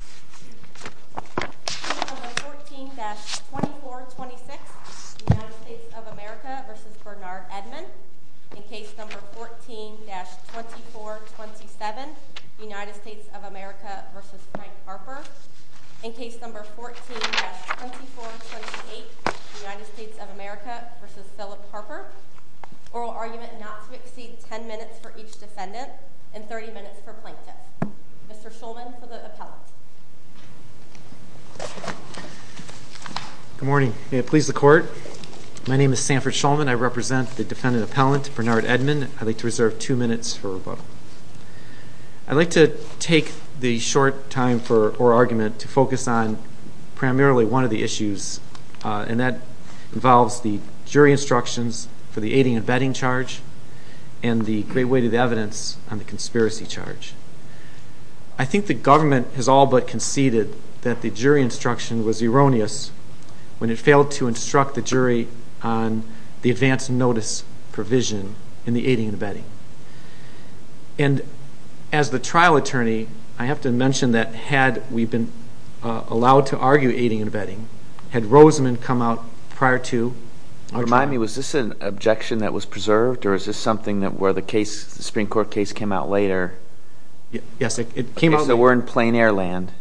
The case number 14-2426, United States of America v. Bernard Edmond. In case number 14-2427, United States of America v. Frank Harper. In case number 14-2428, United States of America v. Philip Harper. Oral argument not to exceed 10 minutes for each defendant and 30 minutes for plaintiff. Mr. Shulman for the appellant. Good morning. May it please the Court. My name is Sanford Shulman. I represent the defendant appellant, Bernard Edmond. I'd like to reserve two minutes for rebuttal. I'd like to take the short time for oral argument to focus on primarily one of the issues, and that involves the jury instructions for the aiding and abetting charge and the great weight of the evidence on the conspiracy charge. I think the government has all but conceded that the jury instruction was erroneous when it failed to instruct the jury on the advance notice provision in the aiding and abetting. And as the trial attorney, I have to mention that had we been allowed to argue aiding and abetting, had Rosamond come out prior to our trial. Tommy, was this an objection that was preserved? Or is this something where the Supreme Court case came out later? Yes, it came out later. Okay, so we're in plain air land,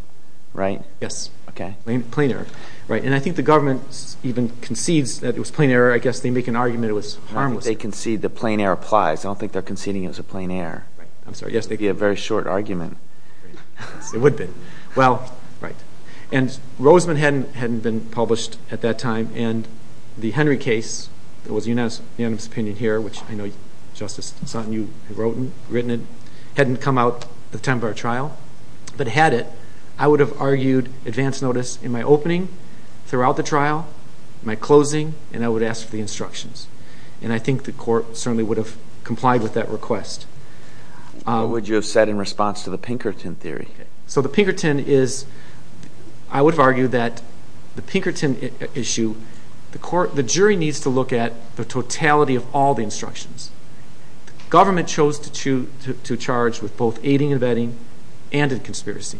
right? Yes. Okay. Plain air. And I think the government even concedes that it was plain air. I guess they make an argument it was harmless. I don't think they concede that plain air applies. I don't think they're conceding it was a plain air. I'm sorry, yes. It would be a very short argument. It would be. Well, right, and Rosamond hadn't been published at that time, and the Henry case that was unanimous opinion here, which I know Justice Sutton, you had written it, hadn't come out at the time of our trial. But had it, I would have argued advance notice in my opening, throughout the trial, my closing, and I would have asked for the instructions. And I think the court certainly would have complied with that request. What would you have said in response to the Pinkerton theory? So the Pinkerton is, I would have argued that the Pinkerton issue, the jury needs to look at the totality of all the instructions. The government chose to charge with both aiding and abetting and in conspiracy.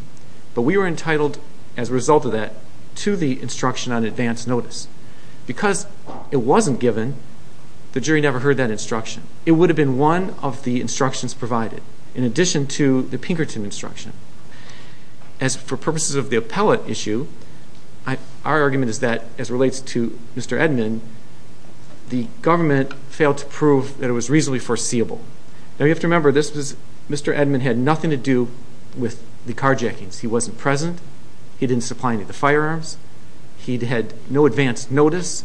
But we were entitled, as a result of that, to the instruction on advance notice. Because it wasn't given, the jury never heard that instruction. It would have been one of the instructions provided, in addition to the Pinkerton instruction. As for purposes of the appellate issue, our argument is that, as relates to Mr. Edmund, the government failed to prove that it was reasonably foreseeable. Now, you have to remember, Mr. Edmund had nothing to do with the carjackings. He wasn't present. He didn't supply any of the firearms. He had no advance notice.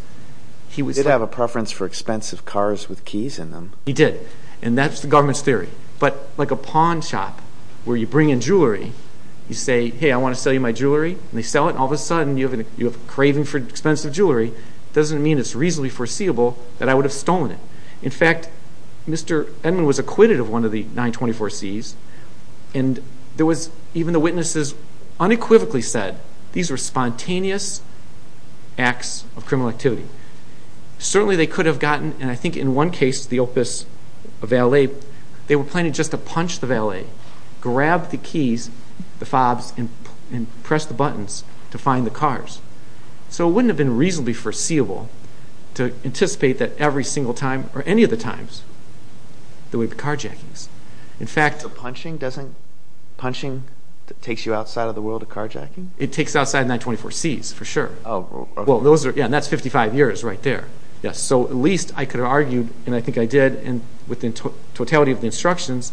He did have a preference for expensive cars with keys in them. He did, and that's the government's theory. But like a pawn shop where you bring in jewelry, you say, hey, I want to sell you my jewelry, and they sell it, and all of a sudden you have a craving for expensive jewelry. It doesn't mean it's reasonably foreseeable that I would have stolen it. In fact, Mr. Edmund was acquitted of one of the 924Cs. Even the witnesses unequivocally said these were spontaneous acts of criminal activity. Certainly they could have gotten, and I think in one case, the Opus of L.A., they were planning just to punch the valet, grab the keys, the fobs, and press the buttons to find the cars. So it wouldn't have been reasonably foreseeable to anticipate that every single time or any of the times there would be carjackings. So punching takes you outside of the world of carjacking? It takes you outside of 924Cs, for sure. Oh, okay. Yeah, and that's 55 years right there. So at least I could have argued, and I think I did, and with the totality of the instructions,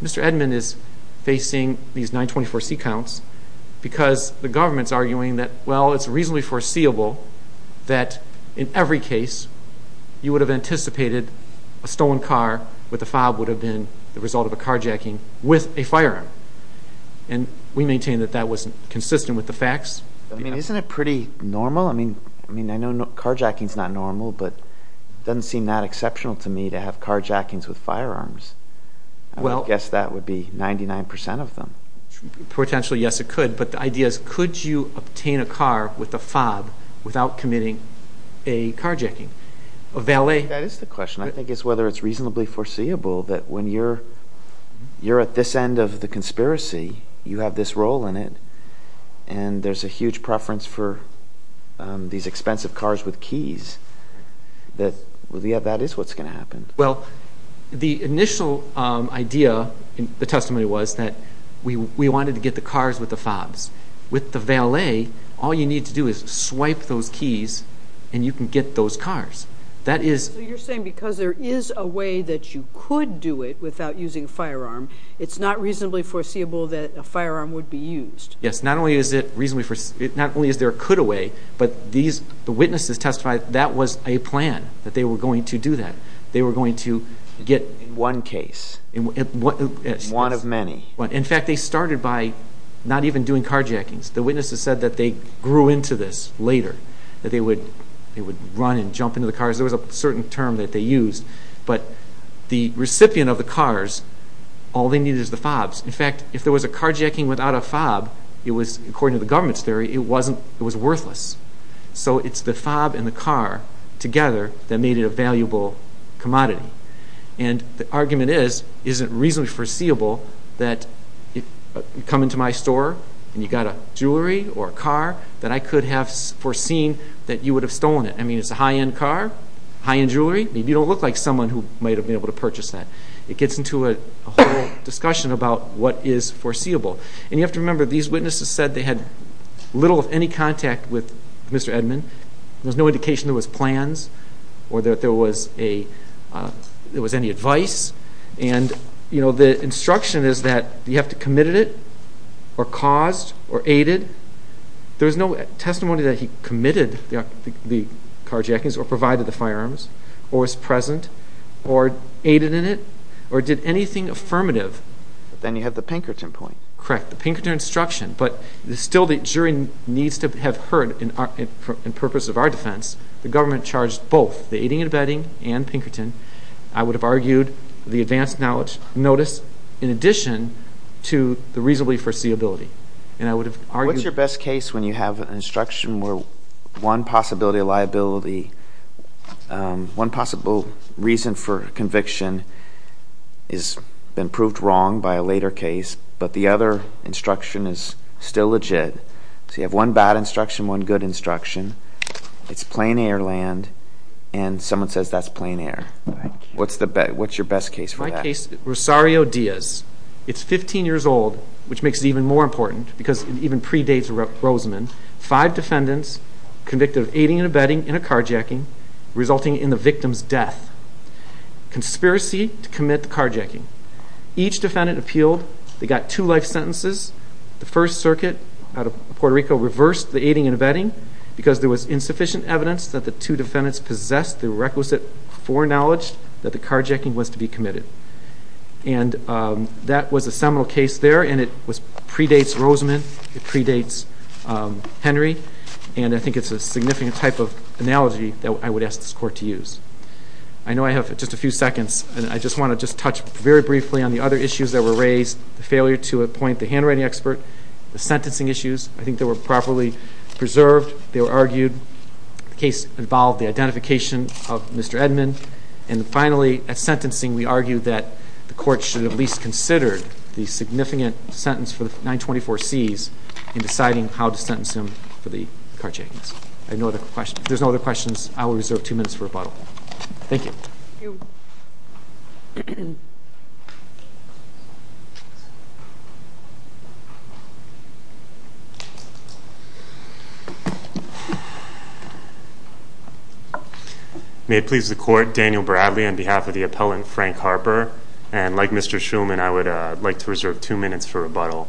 Mr. Edmund is facing these 924C counts because the government's arguing that, well, it's reasonably foreseeable that in every case you would have anticipated a stolen car with a fob would have been the result of a carjacking with a firearm. And we maintain that that wasn't consistent with the facts. I mean, isn't it pretty normal? I mean, I know carjacking is not normal, but it doesn't seem that exceptional to me to have carjackings with firearms. I would guess that would be 99% of them. Potentially, yes, it could. But the idea is could you obtain a car with a fob without committing a carjacking? I think that is the question. I think it's whether it's reasonably foreseeable that when you're at this end of the conspiracy, you have this role in it, and there's a huge preference for these expensive cars with keys, that that is what's going to happen. Well, the initial idea in the testimony was that we wanted to get the cars with the fobs. With the valet, all you need to do is swipe those keys and you can get those cars. So you're saying because there is a way that you could do it without using a firearm, it's not reasonably foreseeable that a firearm would be used. Yes. Not only is there a could-a-way, but the witnesses testified that that was a plan, that they were going to do that. They were going to get... In one case. In one of many. In fact, they started by not even doing carjackings. The witnesses said that they grew into this later, that they would run and jump into the cars. There was a certain term that they used. But the recipient of the cars, all they needed was the fobs. In fact, if there was a carjacking without a fob, it was, according to the government's theory, it was worthless. So it's the fob and the car together that made it a valuable commodity. And the argument is, is it reasonably foreseeable that you come into my store and you've got a jewelry or a car that I could have foreseen that you would have stolen it? I mean, it's a high-end car, high-end jewelry. You don't look like someone who might have been able to purchase that. It gets into a whole discussion about what is foreseeable. And you have to remember, these witnesses said they had little, if any, contact with Mr. Edmond. There was no indication there was plans or that there was any advice. And the instruction is that you have to have committed it or caused or aided. There was no testimony that he committed the carjackings or provided the firearms or was present or aided in it or did anything affirmative. Then you have the Pinkerton point. Correct, the Pinkerton instruction. But still the jury needs to have heard, in purpose of our defense, the government charged both the aiding and abetting and Pinkerton, I would have argued, the advanced notice in addition to the reasonably foreseeability. And I would have argued... What's your best case when you have an instruction where one possibility of liability, one possible reason for conviction has been proved wrong by a later case but the other instruction is still legit. So you have one bad instruction, one good instruction. It's plain air land, and someone says that's plain air. What's your best case for that? My case, Rosario Diaz. It's 15 years old, which makes it even more important because it even predates Rosamond. Five defendants convicted of aiding and abetting in a carjacking, resulting in the victim's death. Conspiracy to commit the carjacking. Each defendant appealed. They got two life sentences. The First Circuit out of Puerto Rico reversed the aiding and abetting because there was insufficient evidence that the two defendants possessed the requisite foreknowledge that the carjacking was to be committed. And that was a seminal case there, and it predates Rosamond. It predates Henry. And I think it's a significant type of analogy that I would ask this Court to use. I know I have just a few seconds, and I just want to touch very briefly on the other issues that were raised, the failure to appoint the handwriting expert, the sentencing issues. I think they were properly preserved. They were argued. The case involved the identification of Mr. Edmond. And finally, at sentencing, we argued that the Court should at least consider the significant sentence for the 924Cs in deciding how to sentence him for the carjackings. If there's no other questions, I will reserve two minutes for rebuttal. Thank you. May it please the Court, Daniel Bradley on behalf of the appellant Frank Harper. And like Mr. Shulman, I would like to reserve two minutes for rebuttal.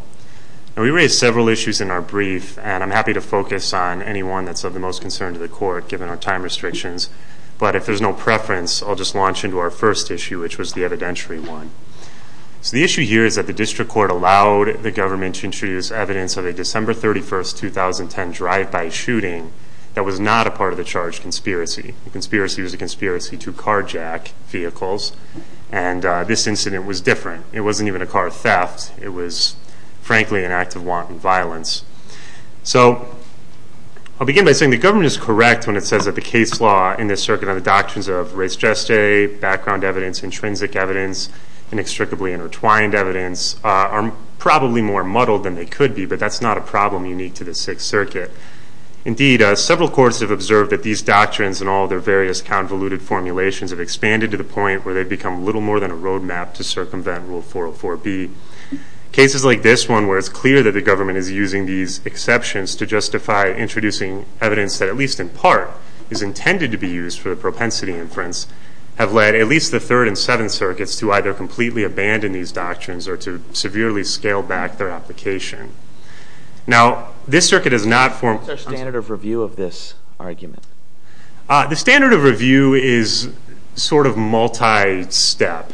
We raised several issues in our brief, and I'm happy to focus on anyone that's of the most concern to the Court given our time restrictions. But if there's no preference, I'll just launch into our first issue, which was the evidentiary one. So the issue here is that the District Court allowed the government to introduce evidence of a December 31, 2010 drive-by shooting that was not a part of the charged conspiracy. The conspiracy was a conspiracy to carjack vehicles, and this incident was different. It wasn't even a car theft. It was, frankly, an act of wanton violence. So I'll begin by saying the government is correct when it says that the case law in this circuit and the doctrines of res geste, background evidence, intrinsic evidence, and inextricably intertwined evidence are probably more muddled than they could be, but that's not a problem unique to the Sixth Circuit. Indeed, several courts have observed that these doctrines and all their various convoluted formulations have expanded to the point where they've become little more than a roadmap to circumvent Rule 404B. Cases like this one, where it's clear that the government is using these exceptions to justify introducing evidence that at least in part is intended to be used for the propensity inference, have led at least the Third and Seventh Circuits to either completely abandon these doctrines or to severely scale back their application. Now, this circuit does not form... What's our standard of review of this argument? The standard of review is sort of multi-step.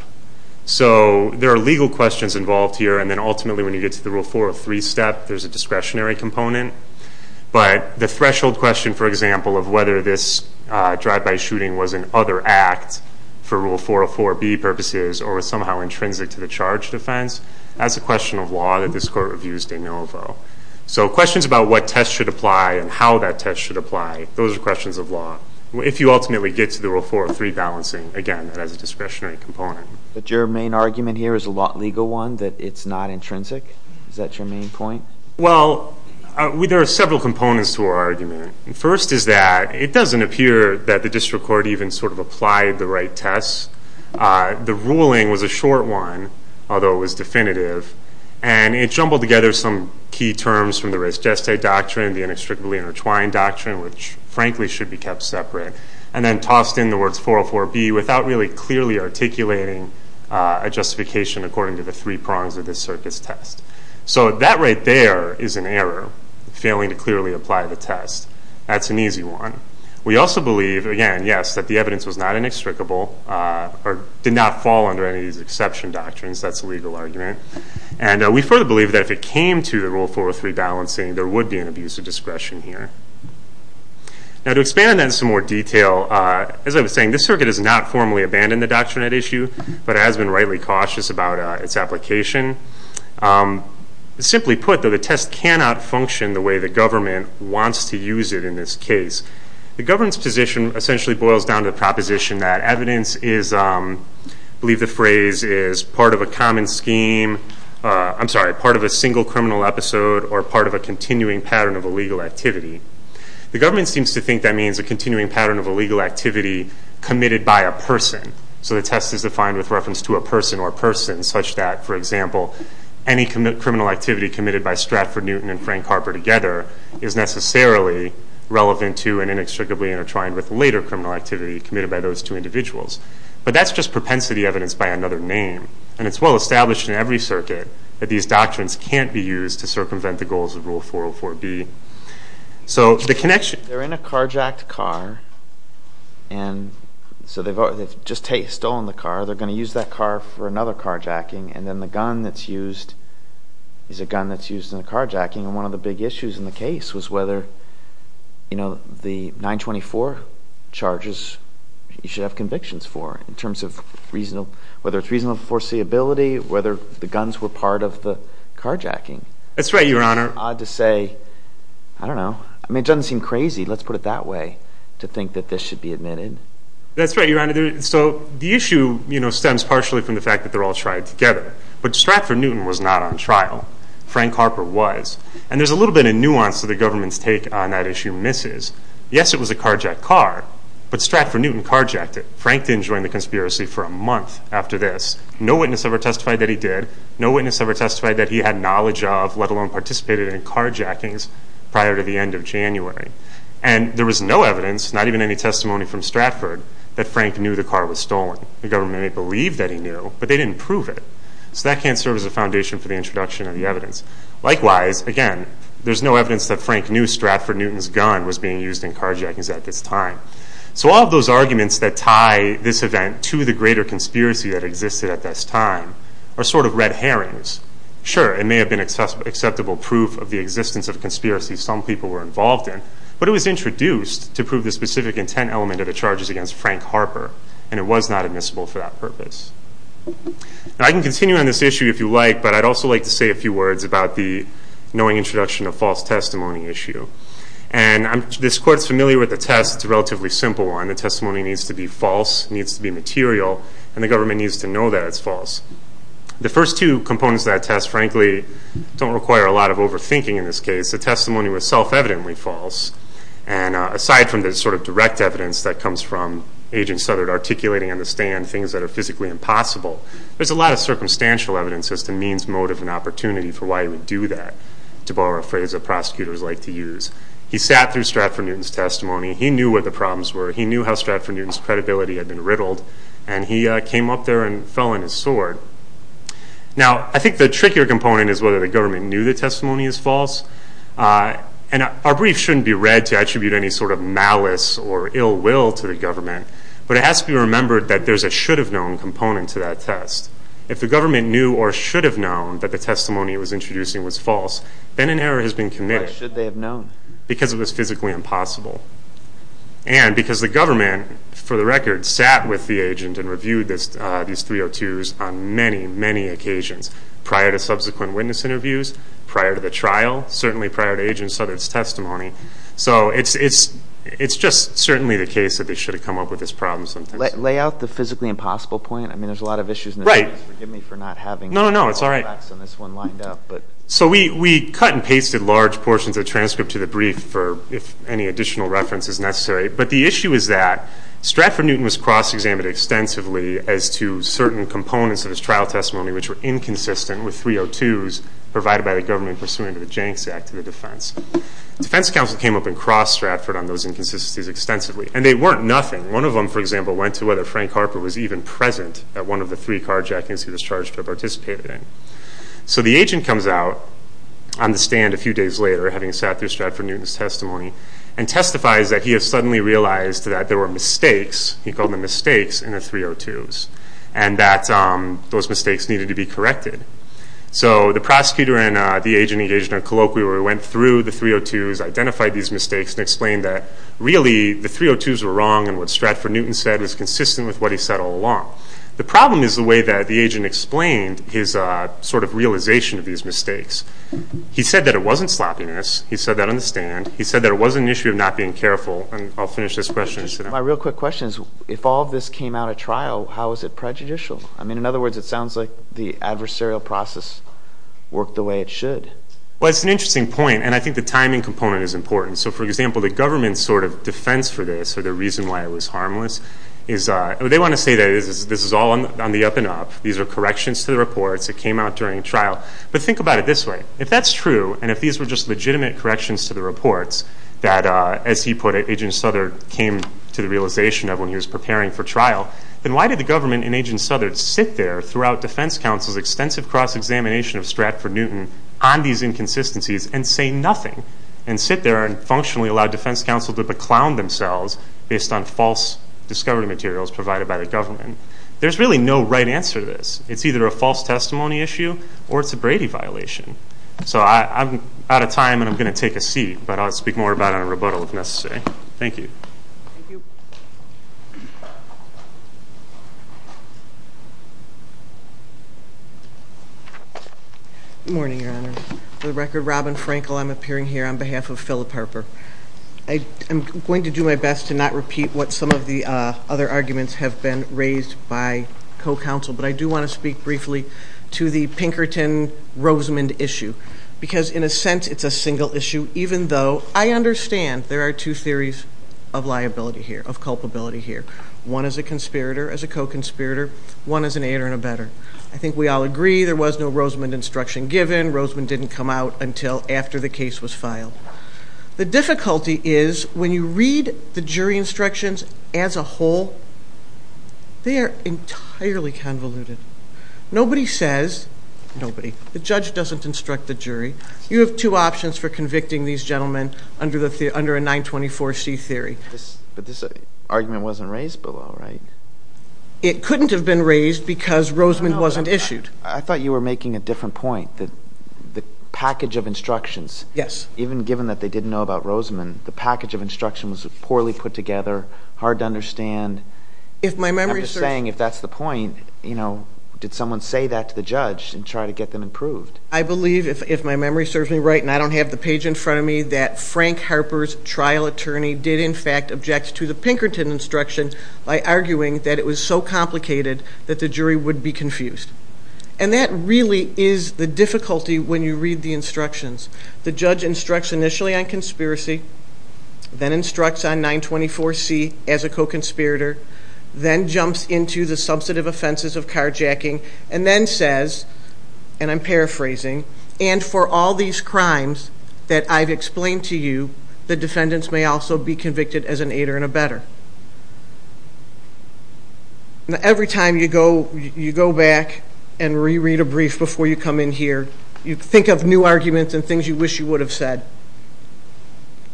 So there are legal questions involved here, and then ultimately when you get to the Rule 403 step, there's a discretionary component. But the threshold question, for example, of whether this drive-by shooting was an other act for Rule 404B purposes or was somehow intrinsic to the charge defense, that's a question of law that this court reviews de novo. So questions about what test should apply and how that test should apply, those are questions of law. If you ultimately get to the Rule 403 balancing, again, that has a discretionary component. But your main argument here is a legal one, that it's not intrinsic? Is that your main point? Well, there are several components to our argument. First is that it doesn't appear that the district court even sort of applied the right tests. The ruling was a short one, although it was definitive, and it jumbled together some key terms from the res gestate doctrine, the inextricably intertwined doctrine, which frankly should be kept separate, and then tossed in the words 404B without really clearly articulating a justification according to the three prongs of this circuit's test. So that right there is an error, failing to clearly apply the test. That's an easy one. We also believe, again, yes, that the evidence was not inextricable or did not fall under any of these exception doctrines. That's a legal argument. We further believe that if it came to the Rule 403 balancing, there would be an abuse of discretion here. Now to expand on that in some more detail, as I was saying, this circuit has not formally abandoned the doctrinette issue, but it has been rightly cautious about its application. Simply put, though, the test cannot function the way the government wants to use it in this case. The government's position essentially boils down to the proposition that evidence is, I believe the phrase is, part of a common scheme, I'm sorry, part of a single criminal episode or part of a continuing pattern of illegal activity. The government seems to think that means a continuing pattern of illegal activity committed by a person. So the test is defined with reference to a person or persons, such that, for example, any criminal activity committed by Stratford Newton and Frank Harper together is necessarily relevant to and inextricably intertwined with later criminal activity committed by those two individuals. But that's just propensity evidence by another name, and it's well established in every circuit that these doctrines can't be used to circumvent the goals of Rule 404B. So the connection— They're in a carjacked car, and so they've just stolen the car. They're going to use that car for another carjacking, and then the gun that's used is a gun that's used in a carjacking. One of the big issues in the case was whether the 924 charges, you should have convictions for in terms of whether it's reasonable foreseeability, whether the guns were part of the carjacking. That's right, Your Honor. It's odd to say, I don't know. I mean, it doesn't seem crazy, let's put it that way, to think that this should be admitted. That's right, Your Honor. So the issue stems partially from the fact that they're all tried together. But Stratford Newton was not on trial. Frank Harper was. And there's a little bit of nuance to the government's take on that issue, Mrs. Yes, it was a carjacked car, but Stratford Newton carjacked it. Frank didn't join the conspiracy for a month after this. No witness ever testified that he did. No witness ever testified that he had knowledge of, let alone participated in carjackings prior to the end of January. And there was no evidence, not even any testimony from Stratford, that Frank knew the car was stolen. The government may believe that he knew, but they didn't prove it. So that can't serve as a foundation for the introduction of the evidence. Likewise, again, there's no evidence that Frank knew Stratford Newton's gun was being used in carjackings at this time. So all of those arguments that tie this event to the greater conspiracy that existed at this time are sort of red herrings. Sure, it may have been acceptable proof of the existence of conspiracy some people were involved in, but it was introduced to prove the specific intent element of the charges against Frank Harper, and it was not admissible for that purpose. Now I can continue on this issue if you like, but I'd also like to say a few words about the knowing introduction of false testimony issue. And this court's familiar with the test. It's a relatively simple one. The testimony needs to be false, needs to be material, and the government needs to know that it's false. The first two components of that test, frankly, don't require a lot of overthinking in this case. The testimony was self-evidently false. And aside from the sort of direct evidence that comes from Agent Southert articulating on the stand things that are physically impossible, there's a lot of circumstantial evidence as to means, motive, and opportunity for why he would do that, to borrow a phrase that prosecutors like to use. He sat through Stratford Newton's testimony. He knew what the problems were. He knew how Stratford Newton's credibility had been riddled. And he came up there and fell on his sword. Now I think the trickier component is whether the government knew the testimony is false. And our brief shouldn't be read to attribute any sort of malice or ill will to the government, but it has to be remembered that there's a should-have-known component to that test. If the government knew or should have known that the testimony it was introducing was false, then an error has been committed. Why should they have known? Because it was physically impossible. And because the government, for the record, sat with the agent and reviewed these 302s on many, many occasions prior to subsequent witness interviews, prior to the trial, certainly prior to Agent Southert's testimony. So it's just certainly the case that they should have come up with this problem sometimes. Lay out the physically impossible point. I mean, there's a lot of issues in this case. Right. Forgive me for not having all the facts on this one lined up. No, no, no, it's all right. So we cut and pasted large portions of the transcript to the brief for if any additional reference is necessary. But the issue is that Stratford Newton was cross-examined extensively as to certain components of his trial testimony which were inconsistent with 302s provided by the government pursuant to the Jancks Act of the defense. Defense counsel came up and crossed Stratford on those inconsistencies extensively, and they weren't nothing. One of them, for example, went to whether Frank Harper was even present at one of the three carjackings he was charged to have participated in. So the agent comes out on the stand a few days later, having sat through Stratford Newton's testimony, and testifies that he has suddenly realized that there were mistakes, he called them mistakes, in the 302s, and that those mistakes needed to be corrected. So the prosecutor and the agent engaged in a colloquy where we went through the 302s, identified these mistakes, and explained that really the 302s were wrong and what Stratford Newton said was consistent with what he said all along. The problem is the way that the agent explained his sort of realization of these mistakes. He said that it wasn't sloppiness. He said that on the stand. He said that it wasn't an issue of not being careful. And I'll finish this question and sit down. My real quick question is if all of this came out at trial, how is it prejudicial? I mean, in other words, it sounds like the adversarial process worked the way it should. Well, it's an interesting point, and I think the timing component is important. So, for example, the government's sort of defense for this, or the reason why it was harmless, is they want to say that this is all on the up and up. These are corrections to the reports. It came out during trial. But think about it this way. If that's true, and if these were just legitimate corrections to the reports that, as he put it, Agent Southard came to the realization of when he was preparing for trial, then why did the government and Agent Southard sit there throughout defense counsel's extensive cross-examination of Stratford-Newton on these inconsistencies and say nothing, and sit there and functionally allow defense counsel to beclown themselves based on false discovery materials provided by the government? There's really no right answer to this. It's either a false testimony issue or it's a Brady violation. So I'm out of time, and I'm going to take a seat. But I'll speak more about it in a rebuttal if necessary. Thank you. Thank you. Good morning, Your Honor. For the record, Robin Frankel. I'm appearing here on behalf of Philip Harper. I'm going to do my best to not repeat what some of the other arguments have been raised by co-counsel, but I do want to speak briefly to the Pinkerton-Rosamond issue because, in a sense, it's a single issue, even though I understand there are two theories of liability here, of culpability here, one as a conspirator, as a co-conspirator, one as an aider and abetter. I think we all agree there was no Rosamond instruction given. Rosamond didn't come out until after the case was filed. The difficulty is when you read the jury instructions as a whole, they are entirely convoluted. Nobody says, nobody, the judge doesn't instruct the jury. You have two options for convicting these gentlemen under a 924C theory. But this argument wasn't raised below, right? It couldn't have been raised because Rosamond wasn't issued. I thought you were making a different point. The package of instructions, even given that they didn't know about Rosamond, the package of instructions was poorly put together, hard to understand. I'm just saying, if that's the point, did someone say that to the judge and try to get them approved? I believe, if my memory serves me right and I don't have the page in front of me, that Frank Harper's trial attorney did, in fact, object to the Pinkerton instruction by arguing that it was so complicated that the jury would be confused. And that really is the difficulty when you read the instructions. The judge instructs initially on conspiracy, then instructs on 924C as a co-conspirator, then jumps into the substantive offenses of carjacking, and then says, and I'm paraphrasing, and for all these crimes that I've explained to you, the defendants may also be convicted as an aider and abetter. Every time you go back and reread a brief before you come in here, you think of new arguments and things you wish you would have said.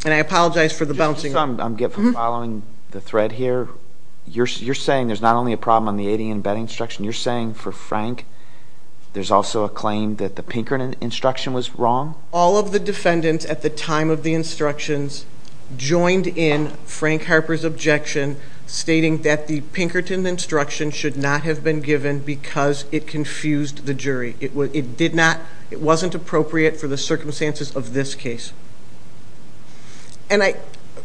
And I apologize for the bouncing. I'm following the thread here. You're saying there's not only a problem on the aiding and abetting instruction, you're saying for Frank there's also a claim that the Pinkerton instruction was wrong? All of the defendants at the time of the instructions joined in Frank Harper's objection stating that the Pinkerton instruction should not have been given because it confused the jury. It did not, it wasn't appropriate for the circumstances of this case. And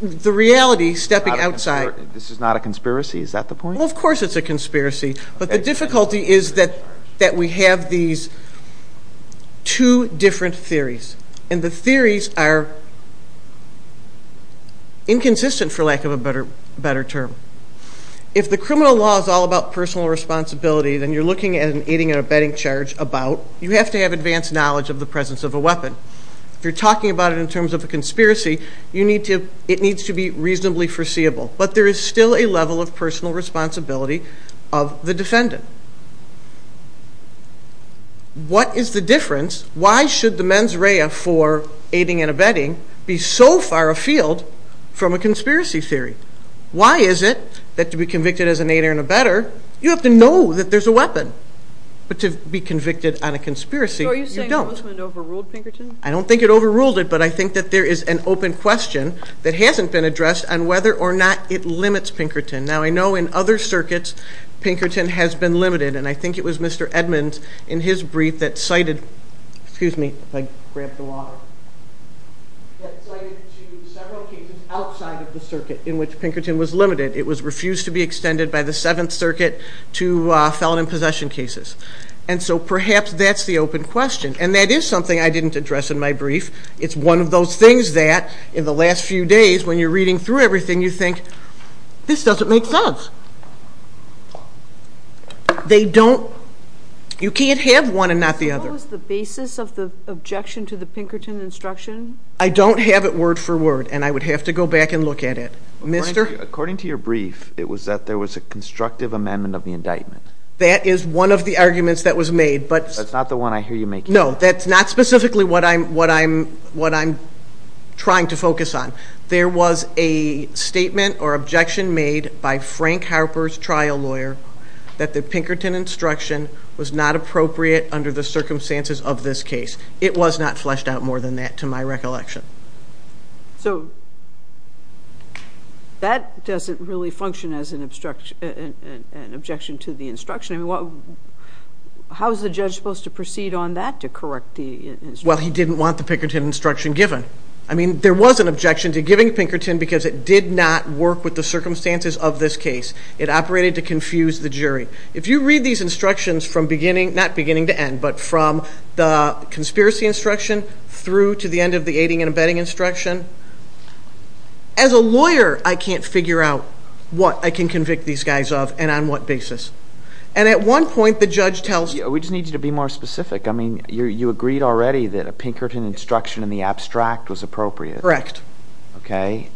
the reality, stepping outside. This is not a conspiracy, is that the point? Well, of course it's a conspiracy. But the difficulty is that we have these two different theories. And the theories are inconsistent, for lack of a better term. If the criminal law is all about personal responsibility, then you're looking at an aiding and abetting charge about, you have to have advanced knowledge of the presence of a weapon. If you're talking about it in terms of a conspiracy, it needs to be reasonably foreseeable. But there is still a level of personal responsibility of the defendant. What is the difference? Why should the mens rea for aiding and abetting be so far afield from a conspiracy theory? Why is it that to be convicted as an aider and abetter, you have to know that there's a weapon? But to be convicted on a conspiracy, you don't. So are you saying the government overruled Pinkerton? I don't think it overruled it, but I think that there is an open question that hasn't been addressed on whether or not it limits Pinkerton. Now, I know in other circuits Pinkerton has been limited, and I think it was Mr. Edmonds in his brief that cited several cases outside of the circuit in which Pinkerton was limited. It was refused to be extended by the Seventh Circuit to felon and possession cases. And so perhaps that's the open question. And that is something I didn't address in my brief. It's one of those things that in the last few days when you're reading through everything, you think, this doesn't make sense. You can't have one and not the other. What was the basis of the objection to the Pinkerton instruction? I don't have it word for word, and I would have to go back and look at it. According to your brief, it was that there was a constructive amendment of the indictment. That is one of the arguments that was made. That's not the one I hear you making. No, that's not specifically what I'm trying to focus on. There was a statement or objection made by Frank Harper's trial lawyer that the Pinkerton instruction was not appropriate under the circumstances of this case. It was not fleshed out more than that, to my recollection. So that doesn't really function as an objection to the instruction. I mean, how is the judge supposed to proceed on that to correct the instruction? Well, he didn't want the Pinkerton instruction given. I mean, there was an objection to giving Pinkerton because it did not work with the circumstances of this case. It operated to confuse the jury. If you read these instructions from beginning, not beginning to end, but from the conspiracy instruction through to the end of the aiding and abetting instruction, as a lawyer, I can't figure out what I can convict these guys of and on what basis. And at one point, the judge tells me— We just need you to be more specific. I mean, you agreed already that a Pinkerton instruction in the abstract was appropriate. Correct. Okay.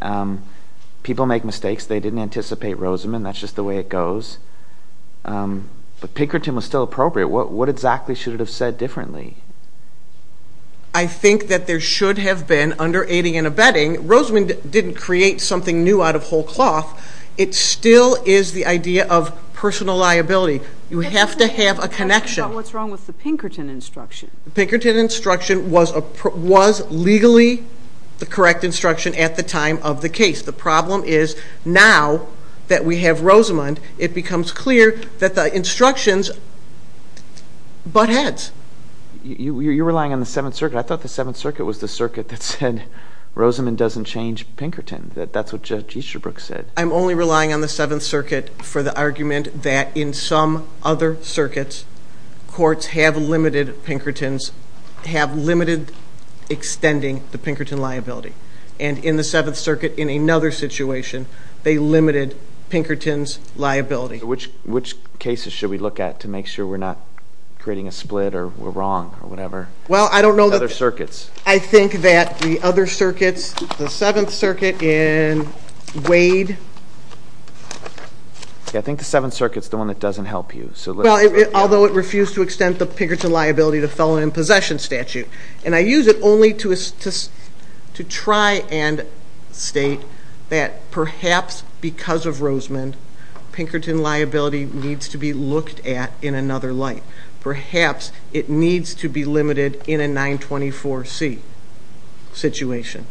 People make mistakes. They didn't anticipate Rosamond. That's just the way it goes. But Pinkerton was still appropriate. What exactly should it have said differently? I think that there should have been, under aiding and abetting, Rosamond didn't create something new out of whole cloth. It still is the idea of personal liability. You have to have a connection. What's wrong with the Pinkerton instruction? The Pinkerton instruction was legally the correct instruction at the time of the case. The problem is now that we have Rosamond, it becomes clear that the instructions butt heads. You're relying on the Seventh Circuit. I thought the Seventh Circuit was the circuit that said Rosamond doesn't change Pinkerton. That's what Judge Easterbrook said. I'm only relying on the Seventh Circuit for the argument that in some other circuits, courts have limited Pinkertons, have limited extending the Pinkerton liability. And in the Seventh Circuit, in another situation, they limited Pinkerton's liability. Which cases should we look at to make sure we're not creating a split or we're wrong or whatever? Well, I don't know. Other circuits. I think that the other circuits, the Seventh Circuit in Wade. I think the Seventh Circuit is the one that doesn't help you. Although it refused to extend the Pinkerton liability to felon in possession statute. And I use it only to try and state that perhaps because of Rosamond, Pinkerton liability needs to be looked at in another light. Perhaps it needs to be limited in a 924C situation.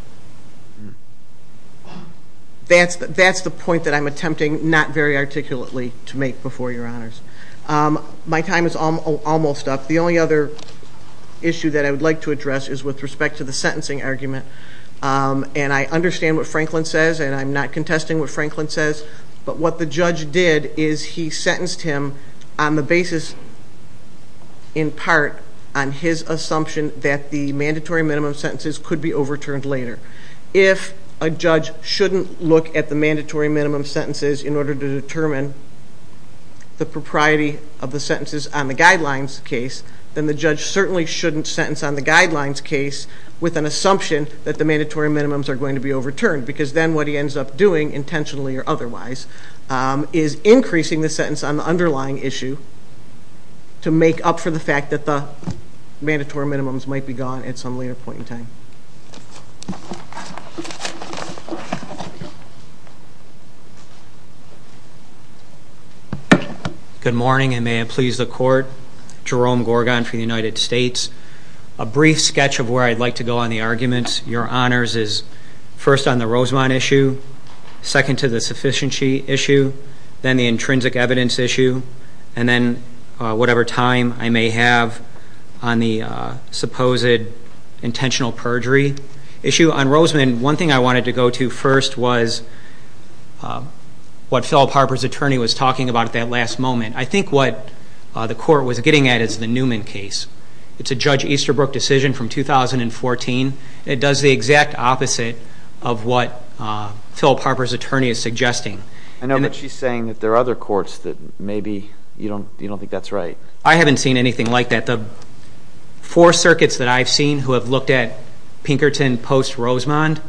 That's the point that I'm attempting not very articulately to make before your honors. My time is almost up. The only other issue that I would like to address is with respect to the sentencing argument. And I understand what Franklin says, and I'm not contesting what Franklin says. But what the judge did is he sentenced him on the basis, in part, on his assumption that the mandatory minimum sentences could be overturned later. If a judge shouldn't look at the mandatory minimum sentences in order to determine the propriety of the sentences on the guidelines case, then the judge certainly shouldn't sentence on the guidelines case with an assumption that the mandatory minimums are going to be overturned. Because then what he ends up doing, intentionally or otherwise, is increasing the sentence on the underlying issue to make up for the fact that the mandatory minimums might be gone at some later point in time. Good morning, and may it please the court. Jerome Gorgon for the United States. A brief sketch of where I'd like to go on the arguments. Your honors is first on the Rosemont issue, second to the sufficiency issue, then the intrinsic evidence issue, and then whatever time I may have on the supposed intentional perjury issue. On Rosemont, one thing I wanted to go to first was what Philip Harper's attorney was talking about at that last moment. I think what the court was getting at is the Newman case. It's a Judge Easterbrook decision from 2014. It does the exact opposite of what Philip Harper's attorney is suggesting. I know, but she's saying that there are other courts that maybe you don't think that's right. I haven't seen anything like that. The four circuits that I've seen who have looked at Pinkerton post-Rosemont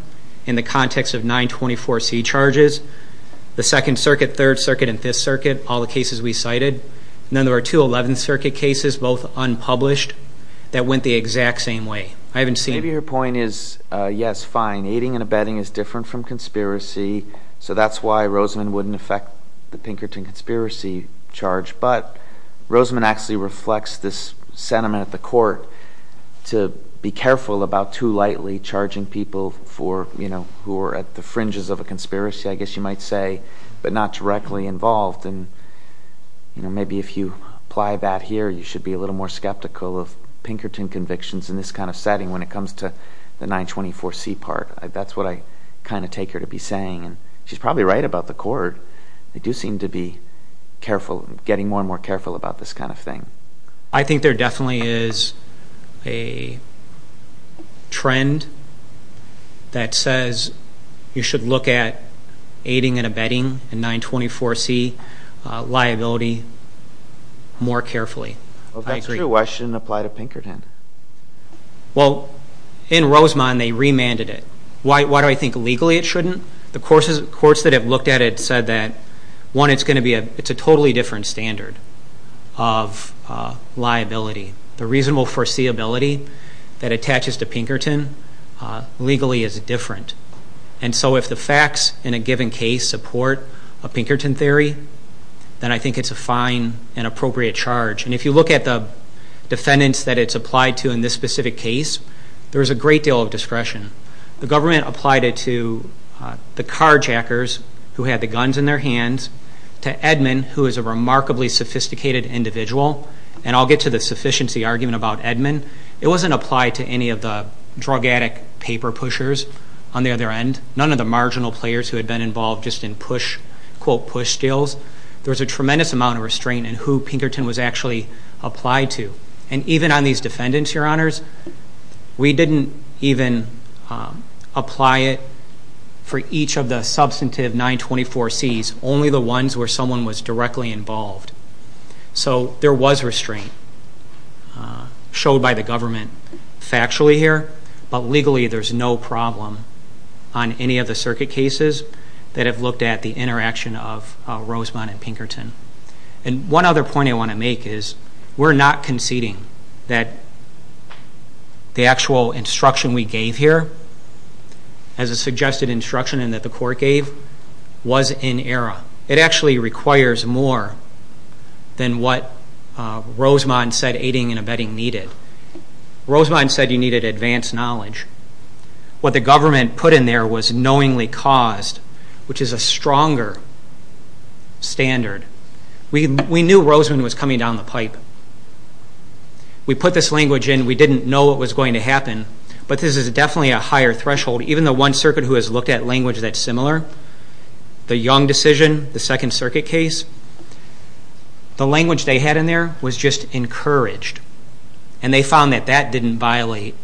in the context of 924C charges, the Second Circuit, Third Circuit, and Fifth Circuit, all the cases we cited, and then there were two Eleventh Circuit cases, both unpublished, that went the exact same way. Maybe your point is, yes, fine, aiding and abetting is different from conspiracy, so that's why Rosemont wouldn't affect the Pinkerton conspiracy charge. But Rosemont actually reflects this sentiment at the court to be careful about too lightly charging people who are at the fringes of a conspiracy, I guess you might say, but not directly involved. Maybe if you apply that here, you should be a little more skeptical of Pinkerton convictions in this kind of setting when it comes to the 924C part. That's what I kind of take her to be saying. She's probably right about the court. They do seem to be getting more and more careful about this kind of thing. I think there definitely is a trend that says you should look at aiding and abetting in 924C liability more carefully. That's true. Why shouldn't it apply to Pinkerton? Well, in Rosemont, they remanded it. Why do I think legally it shouldn't? The courts that have looked at it said that, one, it's a totally different standard of liability. The reasonable foreseeability that attaches to Pinkerton legally is different. And so if the facts in a given case support a Pinkerton theory, then I think it's a fine and appropriate charge. And if you look at the defendants that it's applied to in this specific case, there's a great deal of discretion. The government applied it to the carjackers who had the guns in their hands, to Edmond, who is a remarkably sophisticated individual. And I'll get to the sufficiency argument about Edmond. It wasn't applied to any of the drug addict paper pushers on the other end, none of the marginal players who had been involved just in, quote, push deals. There was a tremendous amount of restraint in who Pinkerton was actually applied to. And even on these defendants, Your Honors, we didn't even apply it for each of the substantive 924Cs, only the ones where someone was directly involved. So there was restraint showed by the government factually here, but legally there's no problem on any of the circuit cases that have looked at the interaction of Rosemont and Pinkerton. And one other point I want to make is we're not conceding that the actual instruction we gave here, as a suggested instruction and that the court gave, was in error. It actually requires more than what Rosemont said aiding and abetting needed. Rosemont said you needed advanced knowledge. What the government put in there was knowingly caused, which is a stronger standard. We knew Rosemont was coming down the pipe. We put this language in, we didn't know what was going to happen, but this is definitely a higher threshold. Even the one circuit who has looked at language that's similar, the Young decision, the Second Circuit case, the language they had in there was just encouraged. And they found that that didn't violate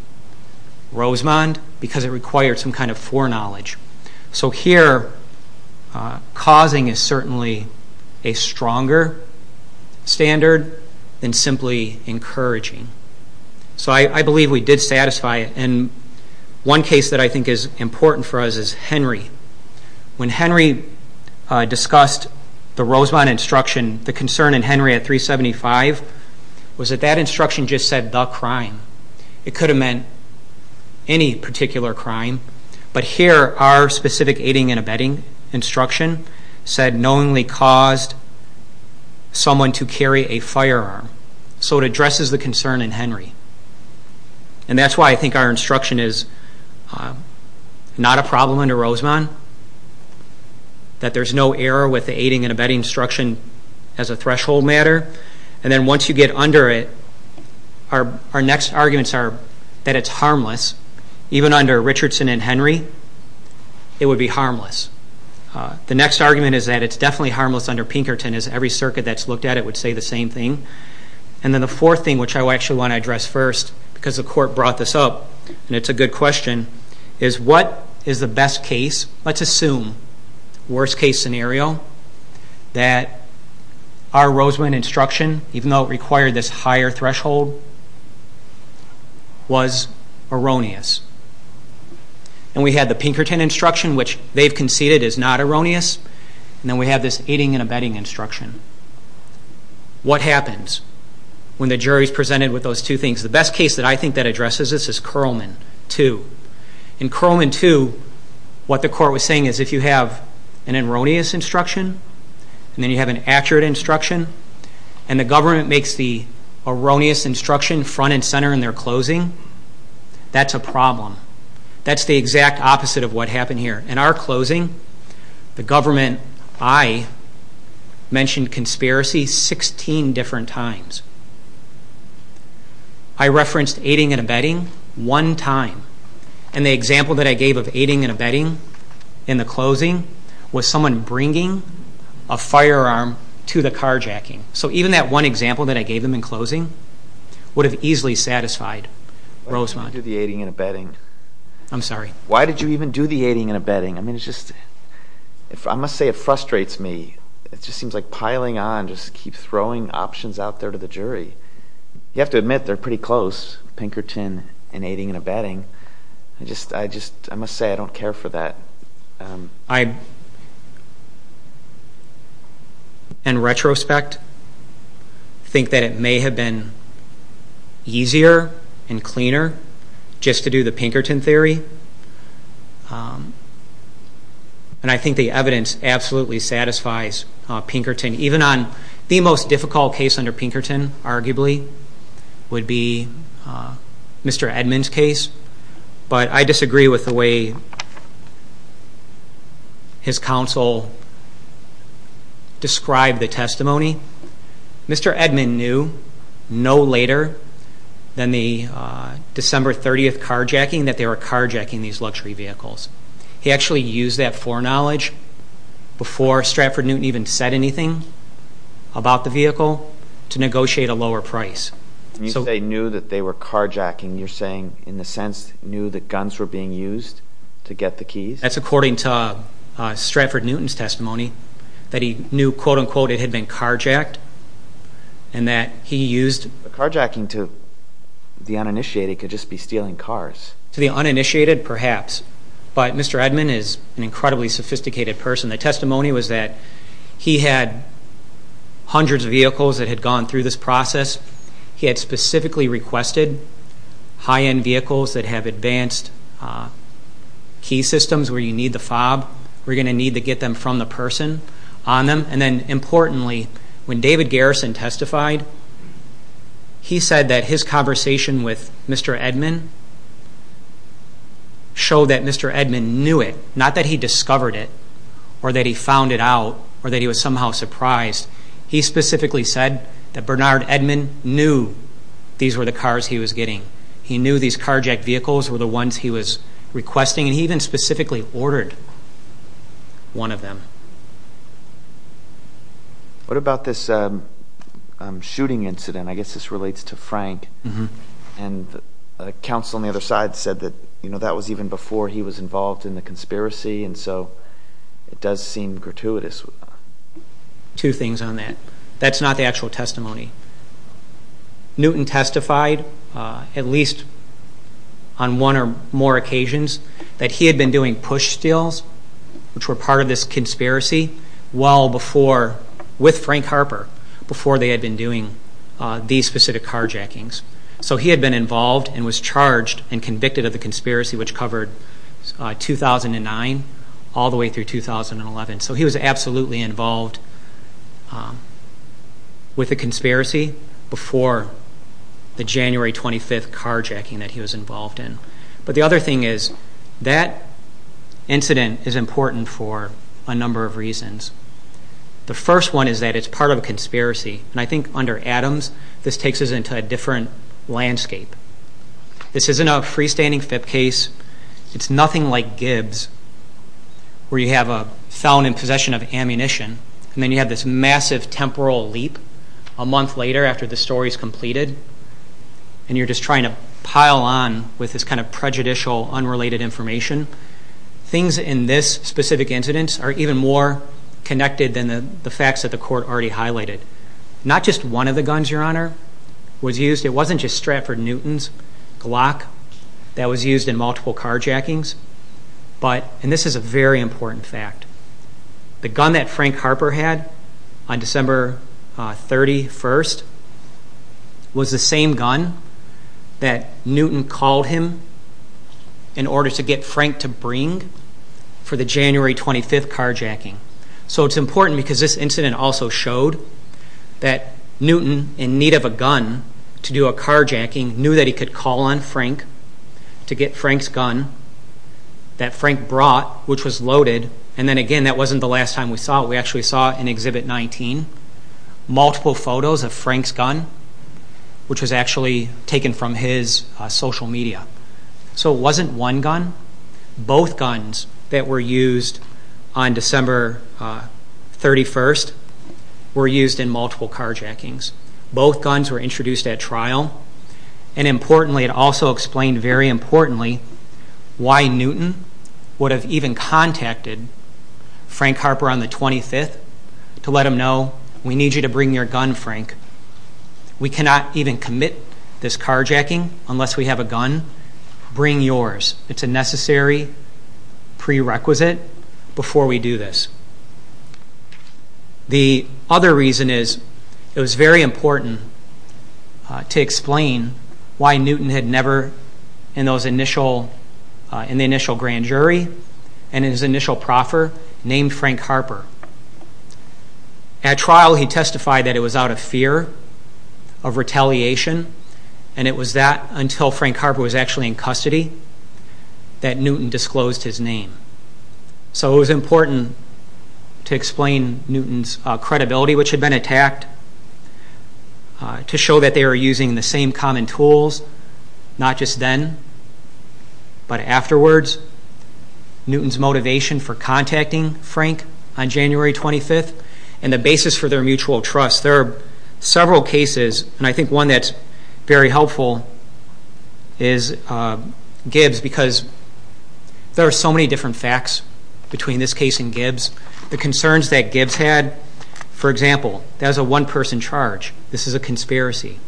Rosemont because it required some kind of foreknowledge. So here causing is certainly a stronger standard than simply encouraging. So I believe we did satisfy it. And one case that I think is important for us is Henry. When Henry discussed the Rosemont instruction, the concern in Henry at 375 was that that instruction just said the crime. It could have meant any particular crime, but here our specific aiding and abetting instruction said knowingly caused someone to carry a firearm. So it addresses the concern in Henry. And that's why I think our instruction is not a problem under Rosemont, that there's no error with the aiding and abetting instruction as a threshold matter. And then once you get under it, our next arguments are that it's harmless. Even under Richardson and Henry, it would be harmless. The next argument is that it's definitely harmless under Pinkerton as every circuit that's looked at it would say the same thing. And then the fourth thing, which I actually want to address first, because the court brought this up and it's a good question, is what is the best case? Let's assume, worst case scenario, that our Rosemont instruction, even though it required this higher threshold, was erroneous. And we had the Pinkerton instruction, which they've conceded is not erroneous, and then we have this aiding and abetting instruction. What happens when the jury's presented with those two things? The best case that I think that addresses this is Curlman 2. In Curlman 2, what the court was saying is if you have an erroneous instruction and then you have an accurate instruction, and the government makes the erroneous instruction front and center in their closing, that's a problem. That's the exact opposite of what happened here. In our closing, the government, I mentioned conspiracy 16 different times. I referenced aiding and abetting one time, and the example that I gave of aiding and abetting in the closing was someone bringing a firearm to the carjacking. So even that one example that I gave them in closing would have easily satisfied Rosemont. Why did you do the aiding and abetting? I'm sorry? Why did you even do the aiding and abetting? I must say it frustrates me. It just seems like piling on, just keep throwing options out there to the jury. You have to admit they're pretty close, Pinkerton and aiding and abetting. I must say I don't care for that. In retrospect, I think that it may have been easier and cleaner just to do the Pinkerton theory, and I think the evidence absolutely satisfies Pinkerton. Even on the most difficult case under Pinkerton, arguably, would be Mr. Edmond's case. But I disagree with the way his counsel described the testimony. Mr. Edmond knew no later than the December 30th carjacking that they were carjacking these luxury vehicles. He actually used that foreknowledge before Stratford-Newton even said anything about the vehicle to negotiate a lower price. When you say knew that they were carjacking, you're saying in a sense knew that guns were being used to get the keys? That's according to Stratford-Newton's testimony, that he knew, quote-unquote, it had been carjacked and that he used it. Carjacking to the uninitiated could just be stealing cars. To the uninitiated, perhaps. But Mr. Edmond is an incredibly sophisticated person. The testimony was that he had hundreds of vehicles that had gone through this process. He had specifically requested high-end vehicles that have advanced key systems where you need the fob. We're going to need to get them from the person on them. And then importantly, when David Garrison testified, he said that his conversation with Mr. Edmond showed that Mr. Edmond knew it, not that he discovered it or that he found it out or that he was somehow surprised. He specifically said that Bernard Edmond knew these were the cars he was getting. He knew these carjacked vehicles were the ones he was requesting, and he even specifically ordered one of them. What about this shooting incident? I guess this relates to Frank. And counsel on the other side said that that was even before he was involved in the conspiracy, and so it does seem gratuitous. Two things on that. That's not the actual testimony. Newton testified, at least on one or more occasions, that he had been doing push steals, which were part of this conspiracy, with Frank Harper, before they had been doing these specific carjackings. So he had been involved and was charged and convicted of the conspiracy, which covered 2009 all the way through 2011. So he was absolutely involved with the conspiracy before the January 25th carjacking that he was involved in. But the other thing is that incident is important for a number of reasons. The first one is that it's part of a conspiracy, and I think under Adams this takes us into a different landscape. This isn't a freestanding FIP case. It's nothing like Gibbs, where you have a felon in possession of ammunition, and then you have this massive temporal leap a month later after the story is completed, and you're just trying to pile on with this kind of prejudicial, unrelated information. Things in this specific incident are even more connected than the facts that the court already highlighted. Not just one of the guns, Your Honor, was used. It wasn't just Stratford Newton's Glock that was used in multiple carjackings, and this is a very important fact. The gun that Frank Harper had on December 31st was the same gun that Newton called him in order to get Frank to bring for the January 25th carjacking. So it's important because this incident also showed that Newton, in need of a gun to do a carjacking, knew that he could call on Frank to get Frank's gun that Frank brought, which was loaded. And then again, that wasn't the last time we saw it. We actually saw it in Exhibit 19, multiple photos of Frank's gun, which was actually taken from his social media. So it wasn't one gun. Both guns that were used on December 31st were used in multiple carjackings. Both guns were introduced at trial. And importantly, it also explained very importantly why Newton would have even contacted Frank Harper on the 25th to let him know, we need you to bring your gun, Frank. We cannot even commit this carjacking unless we have a gun. Bring yours. It's a necessary prerequisite before we do this. The other reason is it was very important to explain why Newton had never, in the initial grand jury and in his initial proffer, named Frank Harper. At trial, he testified that it was out of fear of retaliation, and it was that, until Frank Harper was actually in custody, that Newton disclosed his name. So it was important to explain Newton's credibility, which had been attacked, to show that they were using the same common tools, not just then, but afterwards. Newton's motivation for contacting Frank on January 25th and the basis for their mutual trust. There are several cases, and I think one that's very helpful is Gibbs, because there are so many different facts between this case and Gibbs. The concerns that Gibbs had, for example, that was a one-person charge. This is a conspiracy.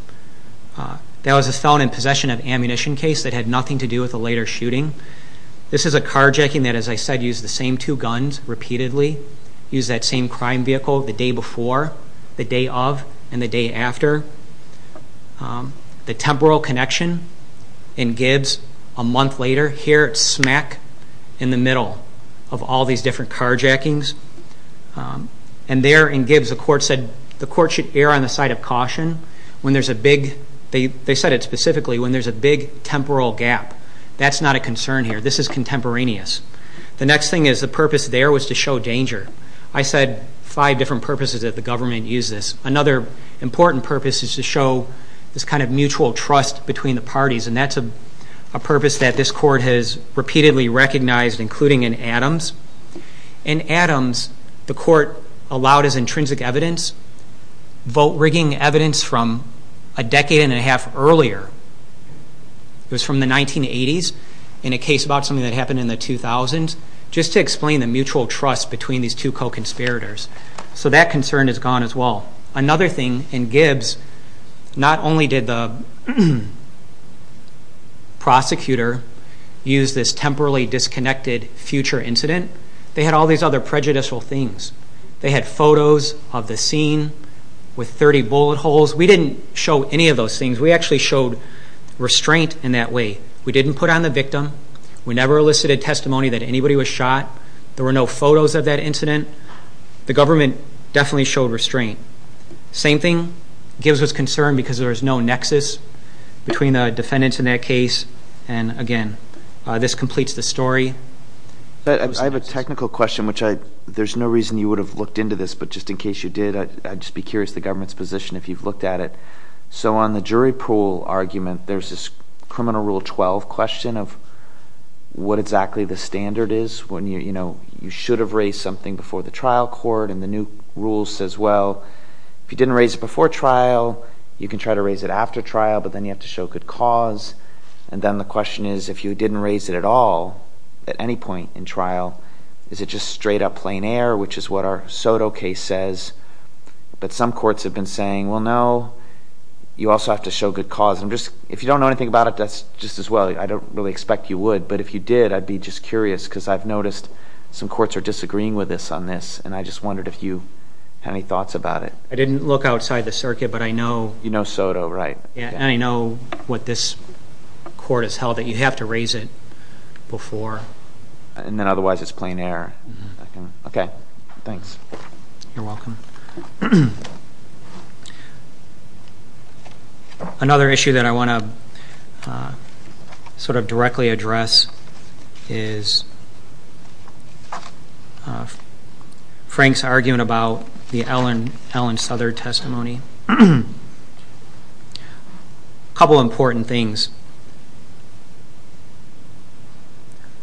That was a felon in possession of ammunition case that had nothing to do with a later shooting. This is a carjacking that, as I said, used the same two guns repeatedly, used that same crime vehicle the day before, the day of, and the day after. The temporal connection in Gibbs, a month later, here it's smack in the middle of all these different carjackings. And there, in Gibbs, the court said the court should err on the side of caution when there's a big, they said it specifically, when there's a big temporal gap. That's not a concern here. This is contemporaneous. The next thing is the purpose there was to show danger. I said five different purposes that the government used this. Another important purpose is to show this kind of mutual trust between the parties, and that's a purpose that this court has repeatedly recognized, including in Adams. In Adams, the court allowed as intrinsic evidence, vote-rigging evidence from a decade and a half earlier. It was from the 1980s in a case about something that happened in the 2000s, just to explain the mutual trust between these two co-conspirators. So that concern is gone as well. Another thing, in Gibbs, not only did the prosecutor use this temporally disconnected future incident, they had all these other prejudicial things. They had photos of the scene with 30 bullet holes. We didn't show any of those things. We actually showed restraint in that way. We didn't put on the victim. We never elicited testimony that anybody was shot. There were no photos of that incident. The government definitely showed restraint. Same thing, Gibbs was concerned because there was no nexus between the defendants in that case. And again, this completes the story. I have a technical question, which there's no reason you would have looked into this, but just in case you did, I'd just be curious the government's position if you've looked at it. So on the jury pool argument, there's this criminal rule 12 question of what exactly the standard is when you should have raised something before the trial court. And the new rule says, well, if you didn't raise it before trial, you can try to raise it after trial, but then you have to show good cause. And then the question is, if you didn't raise it at all at any point in trial, is it just straight-up plain air, which is what our Soto case says? But some courts have been saying, well, no, you also have to show good cause. If you don't know anything about it, that's just as well. I don't really expect you would, but if you did, I'd be just curious because I've noticed some courts are disagreeing with us on this, and I just wondered if you had any thoughts about it. I didn't look outside the circuit, but I know... You know Soto, right. Yeah, and I know what this court has held, that you have to raise it before. And then otherwise it's plain air. Okay, thanks. You're welcome. Another issue that I want to sort of directly address is Frank's argument about the Ellen Souther testimony. A couple important things.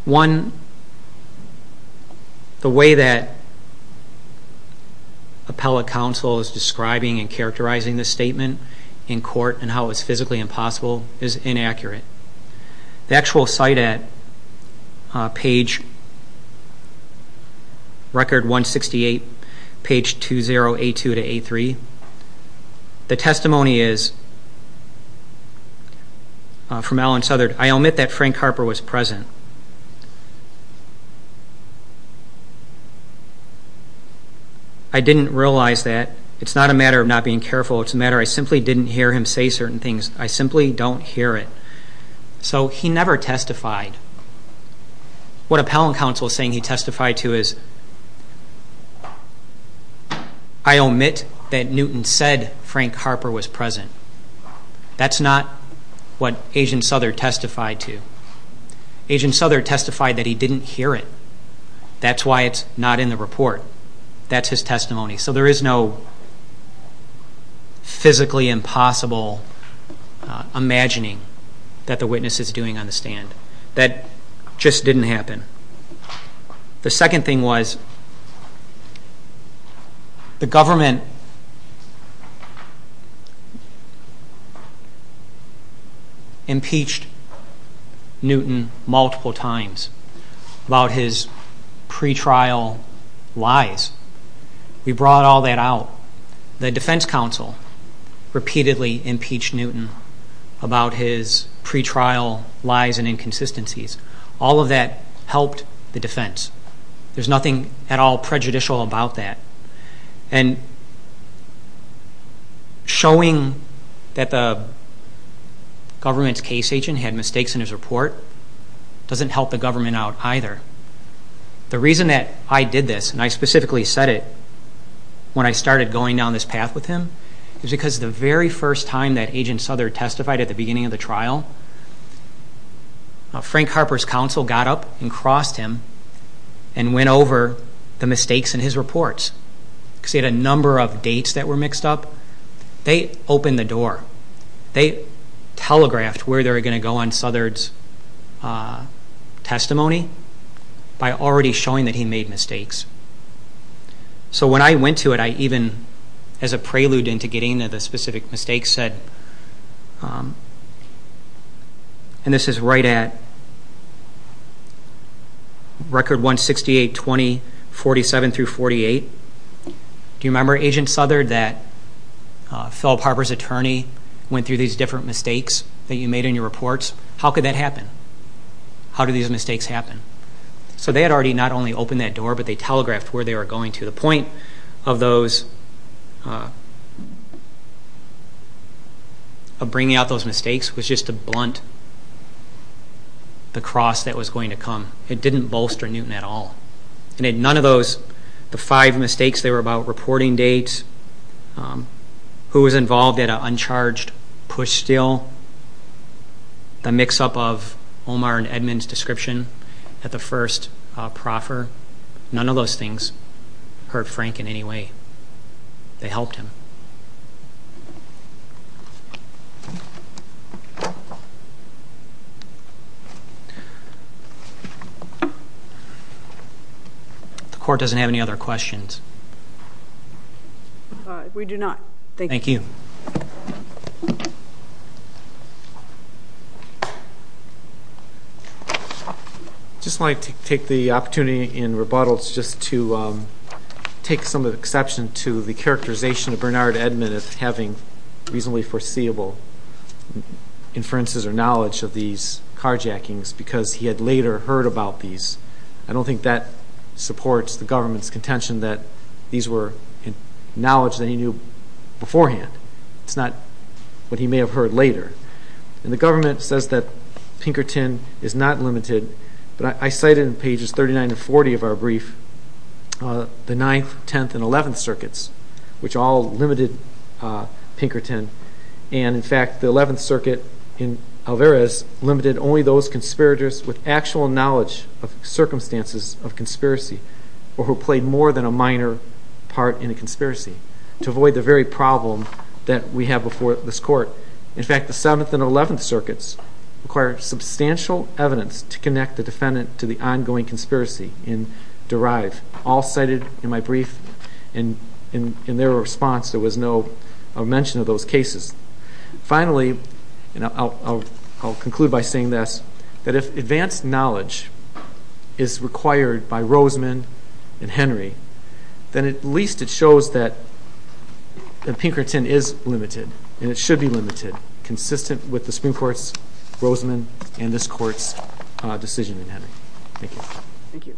One, the way that appellate counsel is describing and characterizing this statement in court and how it's physically impossible is inaccurate. The actual cite at page record 168, page 20, A2 to A3, the testimony is from Ellen Souther, I omit that Frank Harper was present. I didn't realize that. It's not a matter of not being careful. It's a matter I simply didn't hear him say certain things. I simply don't hear it. So he never testified. What appellate counsel is saying he testified to is, I omit that Newton said Frank Harper was present. That's not what Agent Souther testified to. Agent Souther testified that he didn't hear it. That's why it's not in the report. That's his testimony. So there is no physically impossible imagining that the witness is doing on the stand. That just didn't happen. The second thing was the government impeached Newton multiple times about his pretrial lies. We brought all that out. The defense counsel repeatedly impeached Newton about his pretrial lies and inconsistencies. All of that helped the defense. There's nothing at all prejudicial about that. And showing that the government's case agent had mistakes in his report doesn't help the government out either. The reason that I did this, and I specifically said it when I started going down this path with him, is because the very first time that Agent Souther testified at the beginning of the trial, Frank Harper's counsel got up and crossed him and went over the mistakes in his reports. Because he had a number of dates that were mixed up. They opened the door. They telegraphed where they were going to go on Souther's testimony by already showing that he made mistakes. So when I went to it, I even, as a prelude into getting to the specific mistakes said, and this is right at Record 168-20-47-48. Do you remember, Agent Souther, that Philip Harper's attorney went through these different mistakes that you made in your reports? How could that happen? How do these mistakes happen? So they had already not only opened that door, but they telegraphed where they were going to. The point of those, of bringing out those mistakes, was just to blunt the cross that was going to come. It didn't bolster Newton at all. And in none of those, the five mistakes, they were about reporting dates, who was involved at an uncharged push steal, the mix-up of Omar and Edmund's description at the first proffer. None of those things hurt Frank in any way. They helped him. The court doesn't have any other questions. Thank you. I just wanted to take the opportunity in rebuttals just to take some of the exception to the characterization of Bernard Edmund as having reasonably foreseeable inferences or knowledge of these carjackings, because he had later heard about these. I don't think that supports the government's contention that these were knowledge that he knew beforehand. It's not what he may have heard later. And the government says that Pinkerton is not limited. But I cite in pages 39 and 40 of our brief the Ninth, Tenth, and Eleventh Circuits, which all limited Pinkerton. And, in fact, the Eleventh Circuit in Alvarez limited only those conspirators with actual knowledge of circumstances of conspiracy or who played more than a minor part in a conspiracy to avoid the very problem that we have before this court. In fact, the Seventh and Eleventh Circuits require substantial evidence to connect the defendant to the ongoing conspiracy in Derive, all cited in my brief. And in their response, there was no mention of those cases. Finally, and I'll conclude by saying this, that if advanced knowledge is required by Roseman and Henry, then at least it shows that Pinkerton is limited, and it should be limited, consistent with the Supreme Court's Roseman and this court's decision in Henry. Thank you. Thank you.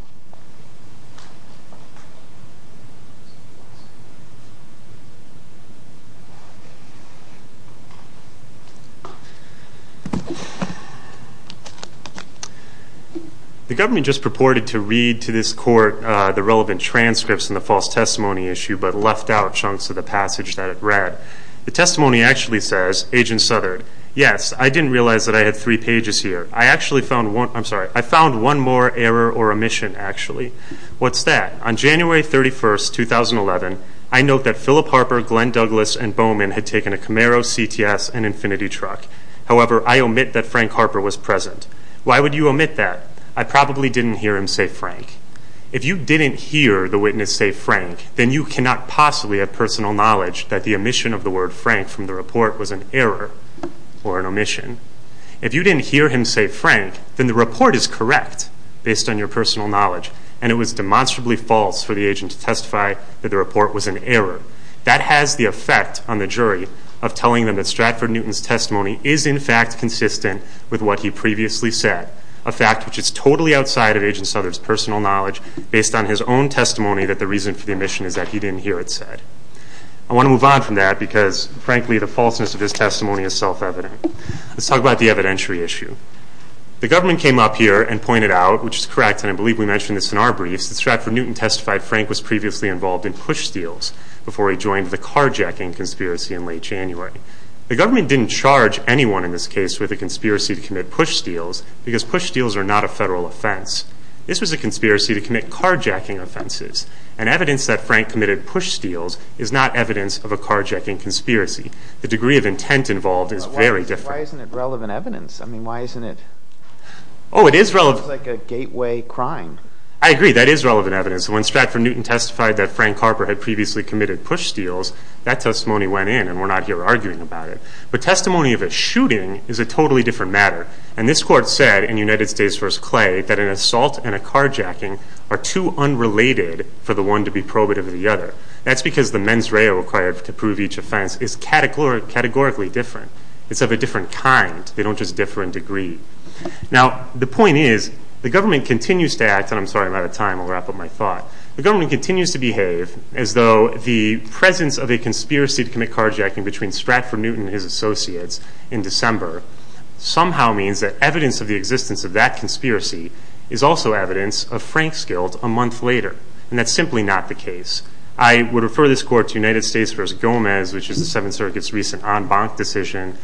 The government just purported to read to this court the relevant transcripts in the false testimony issue, but left out chunks of the passage that it read. The testimony actually says, Agent Southerd, Yes, I didn't realize that I had three pages here. I actually found one more error or omission, actually. What's that? On January 31, 2011, I note that Philip Harper, Glenn Douglas, and Bowman had taken a Camaro, CTS, and Infinity truck. However, I omit that Frank Harper was present. Why would you omit that? I probably didn't hear him say Frank. If you didn't hear the witness say Frank, then you cannot possibly have personal knowledge that the omission of the word Frank from the report was an error or an omission. If you didn't hear him say Frank, then the report is correct based on your personal knowledge, and it was demonstrably false for the agent to testify that the report was an error. That has the effect on the jury of telling them that Stratford Newton's testimony is in fact consistent with what he previously said, a fact which is totally outside of Agent Souther's personal knowledge based on his own testimony that the reason for the omission is that he didn't hear it said. I want to move on from that because, frankly, the falseness of his testimony is self-evident. Let's talk about the evidentiary issue. The government came up here and pointed out, which is correct, and I believe we mentioned this in our briefs, that Stratford Newton testified Frank was previously involved in push steals before he joined the carjacking conspiracy in late January. The government didn't charge anyone in this case with a conspiracy to commit push steals because push steals are not a federal offense. This was a conspiracy to commit carjacking offenses, and evidence that Frank committed push steals is not evidence of a carjacking conspiracy. The degree of intent involved is very different. Why isn't it relevant evidence? I mean, why isn't it like a gateway crime? I agree, that is relevant evidence. When Stratford Newton testified that Frank Harper had previously committed push steals, that testimony went in, and we're not here arguing about it. But testimony of a shooting is a totally different matter, and this court said in United States v. Clay that an assault and a carjacking are too unrelated for the one to be probative of the other. That's because the mens rea required to prove each offense is categorically different. It's of a different kind. They don't just differ in degree. Now, the point is the government continues to act, and I'm sorry I'm out of time. I'll wrap up my thought. The government continues to behave as though the presence of a conspiracy to commit carjacking between Stratford Newton and his associates in December somehow means that evidence of the existence of that conspiracy is also evidence of Frank's guilt a month later, and that's simply not the case. I would refer this court to United States v. Gomez, which is the Seventh Circuit's recent en banc decision,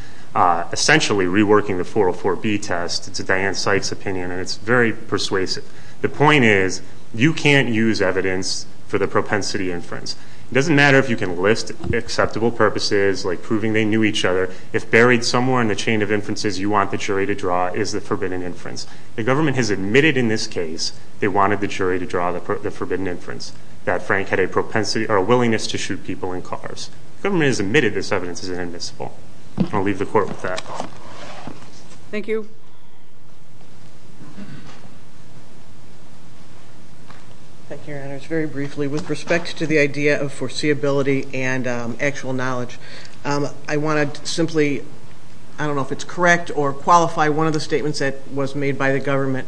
essentially reworking the 404B test. It's a Diane Sykes opinion, and it's very persuasive. The point is you can't use evidence for the propensity inference. It doesn't matter if you can list acceptable purposes, like proving they knew each other. If buried somewhere in the chain of inferences you want the jury to draw is the forbidden inference. The government has admitted in this case they wanted the jury to draw the forbidden inference, that Frank had a propensity or a willingness to shoot people in cars. The government has admitted this evidence is inadmissible. I'll leave the court with that. Thank you. Thank you, Your Honors. Just very briefly, with respect to the idea of foreseeability and actual knowledge, I want to simply, I don't know if it's correct or qualify, one of the statements that was made by the government.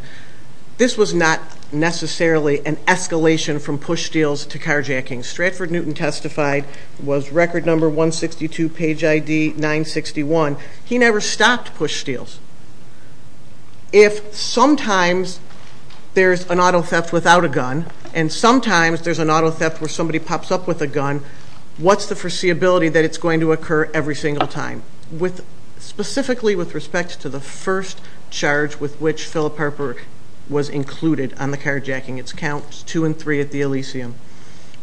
This was not necessarily an escalation from push steals to carjacking. Stratford Newton testified, was record number 162, page ID 961. He never stopped push steals. If sometimes there's an auto theft without a gun, and sometimes there's an auto theft where somebody pops up with a gun, what's the foreseeability that it's going to occur every single time? Specifically with respect to the first charge with which Philip Harper was included on the carjacking, it's counts two and three at the Elysium.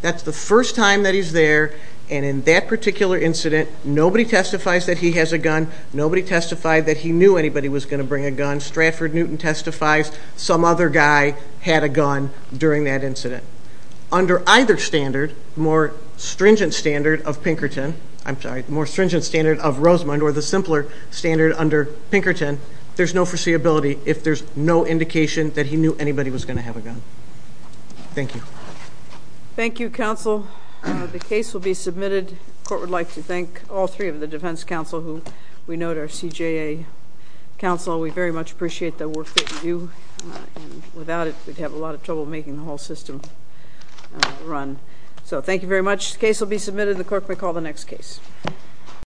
That's the first time that he's there, and in that particular incident nobody testifies that he has a gun, nobody testified that he knew anybody was going to bring a gun. When Stratford Newton testifies, some other guy had a gun during that incident. Under either standard, the more stringent standard of Pinkerton, I'm sorry, the more stringent standard of Rosemond, or the simpler standard under Pinkerton, there's no foreseeability if there's no indication that he knew anybody was going to have a gun. Thank you. Thank you, counsel. The case will be submitted. The court would like to thank all three of the defense counsel who we note are CJA counsel. We very much appreciate the work that you do. Without it, we'd have a lot of trouble making the whole system run. Thank you very much. The case will be submitted. The clerk may call the next case.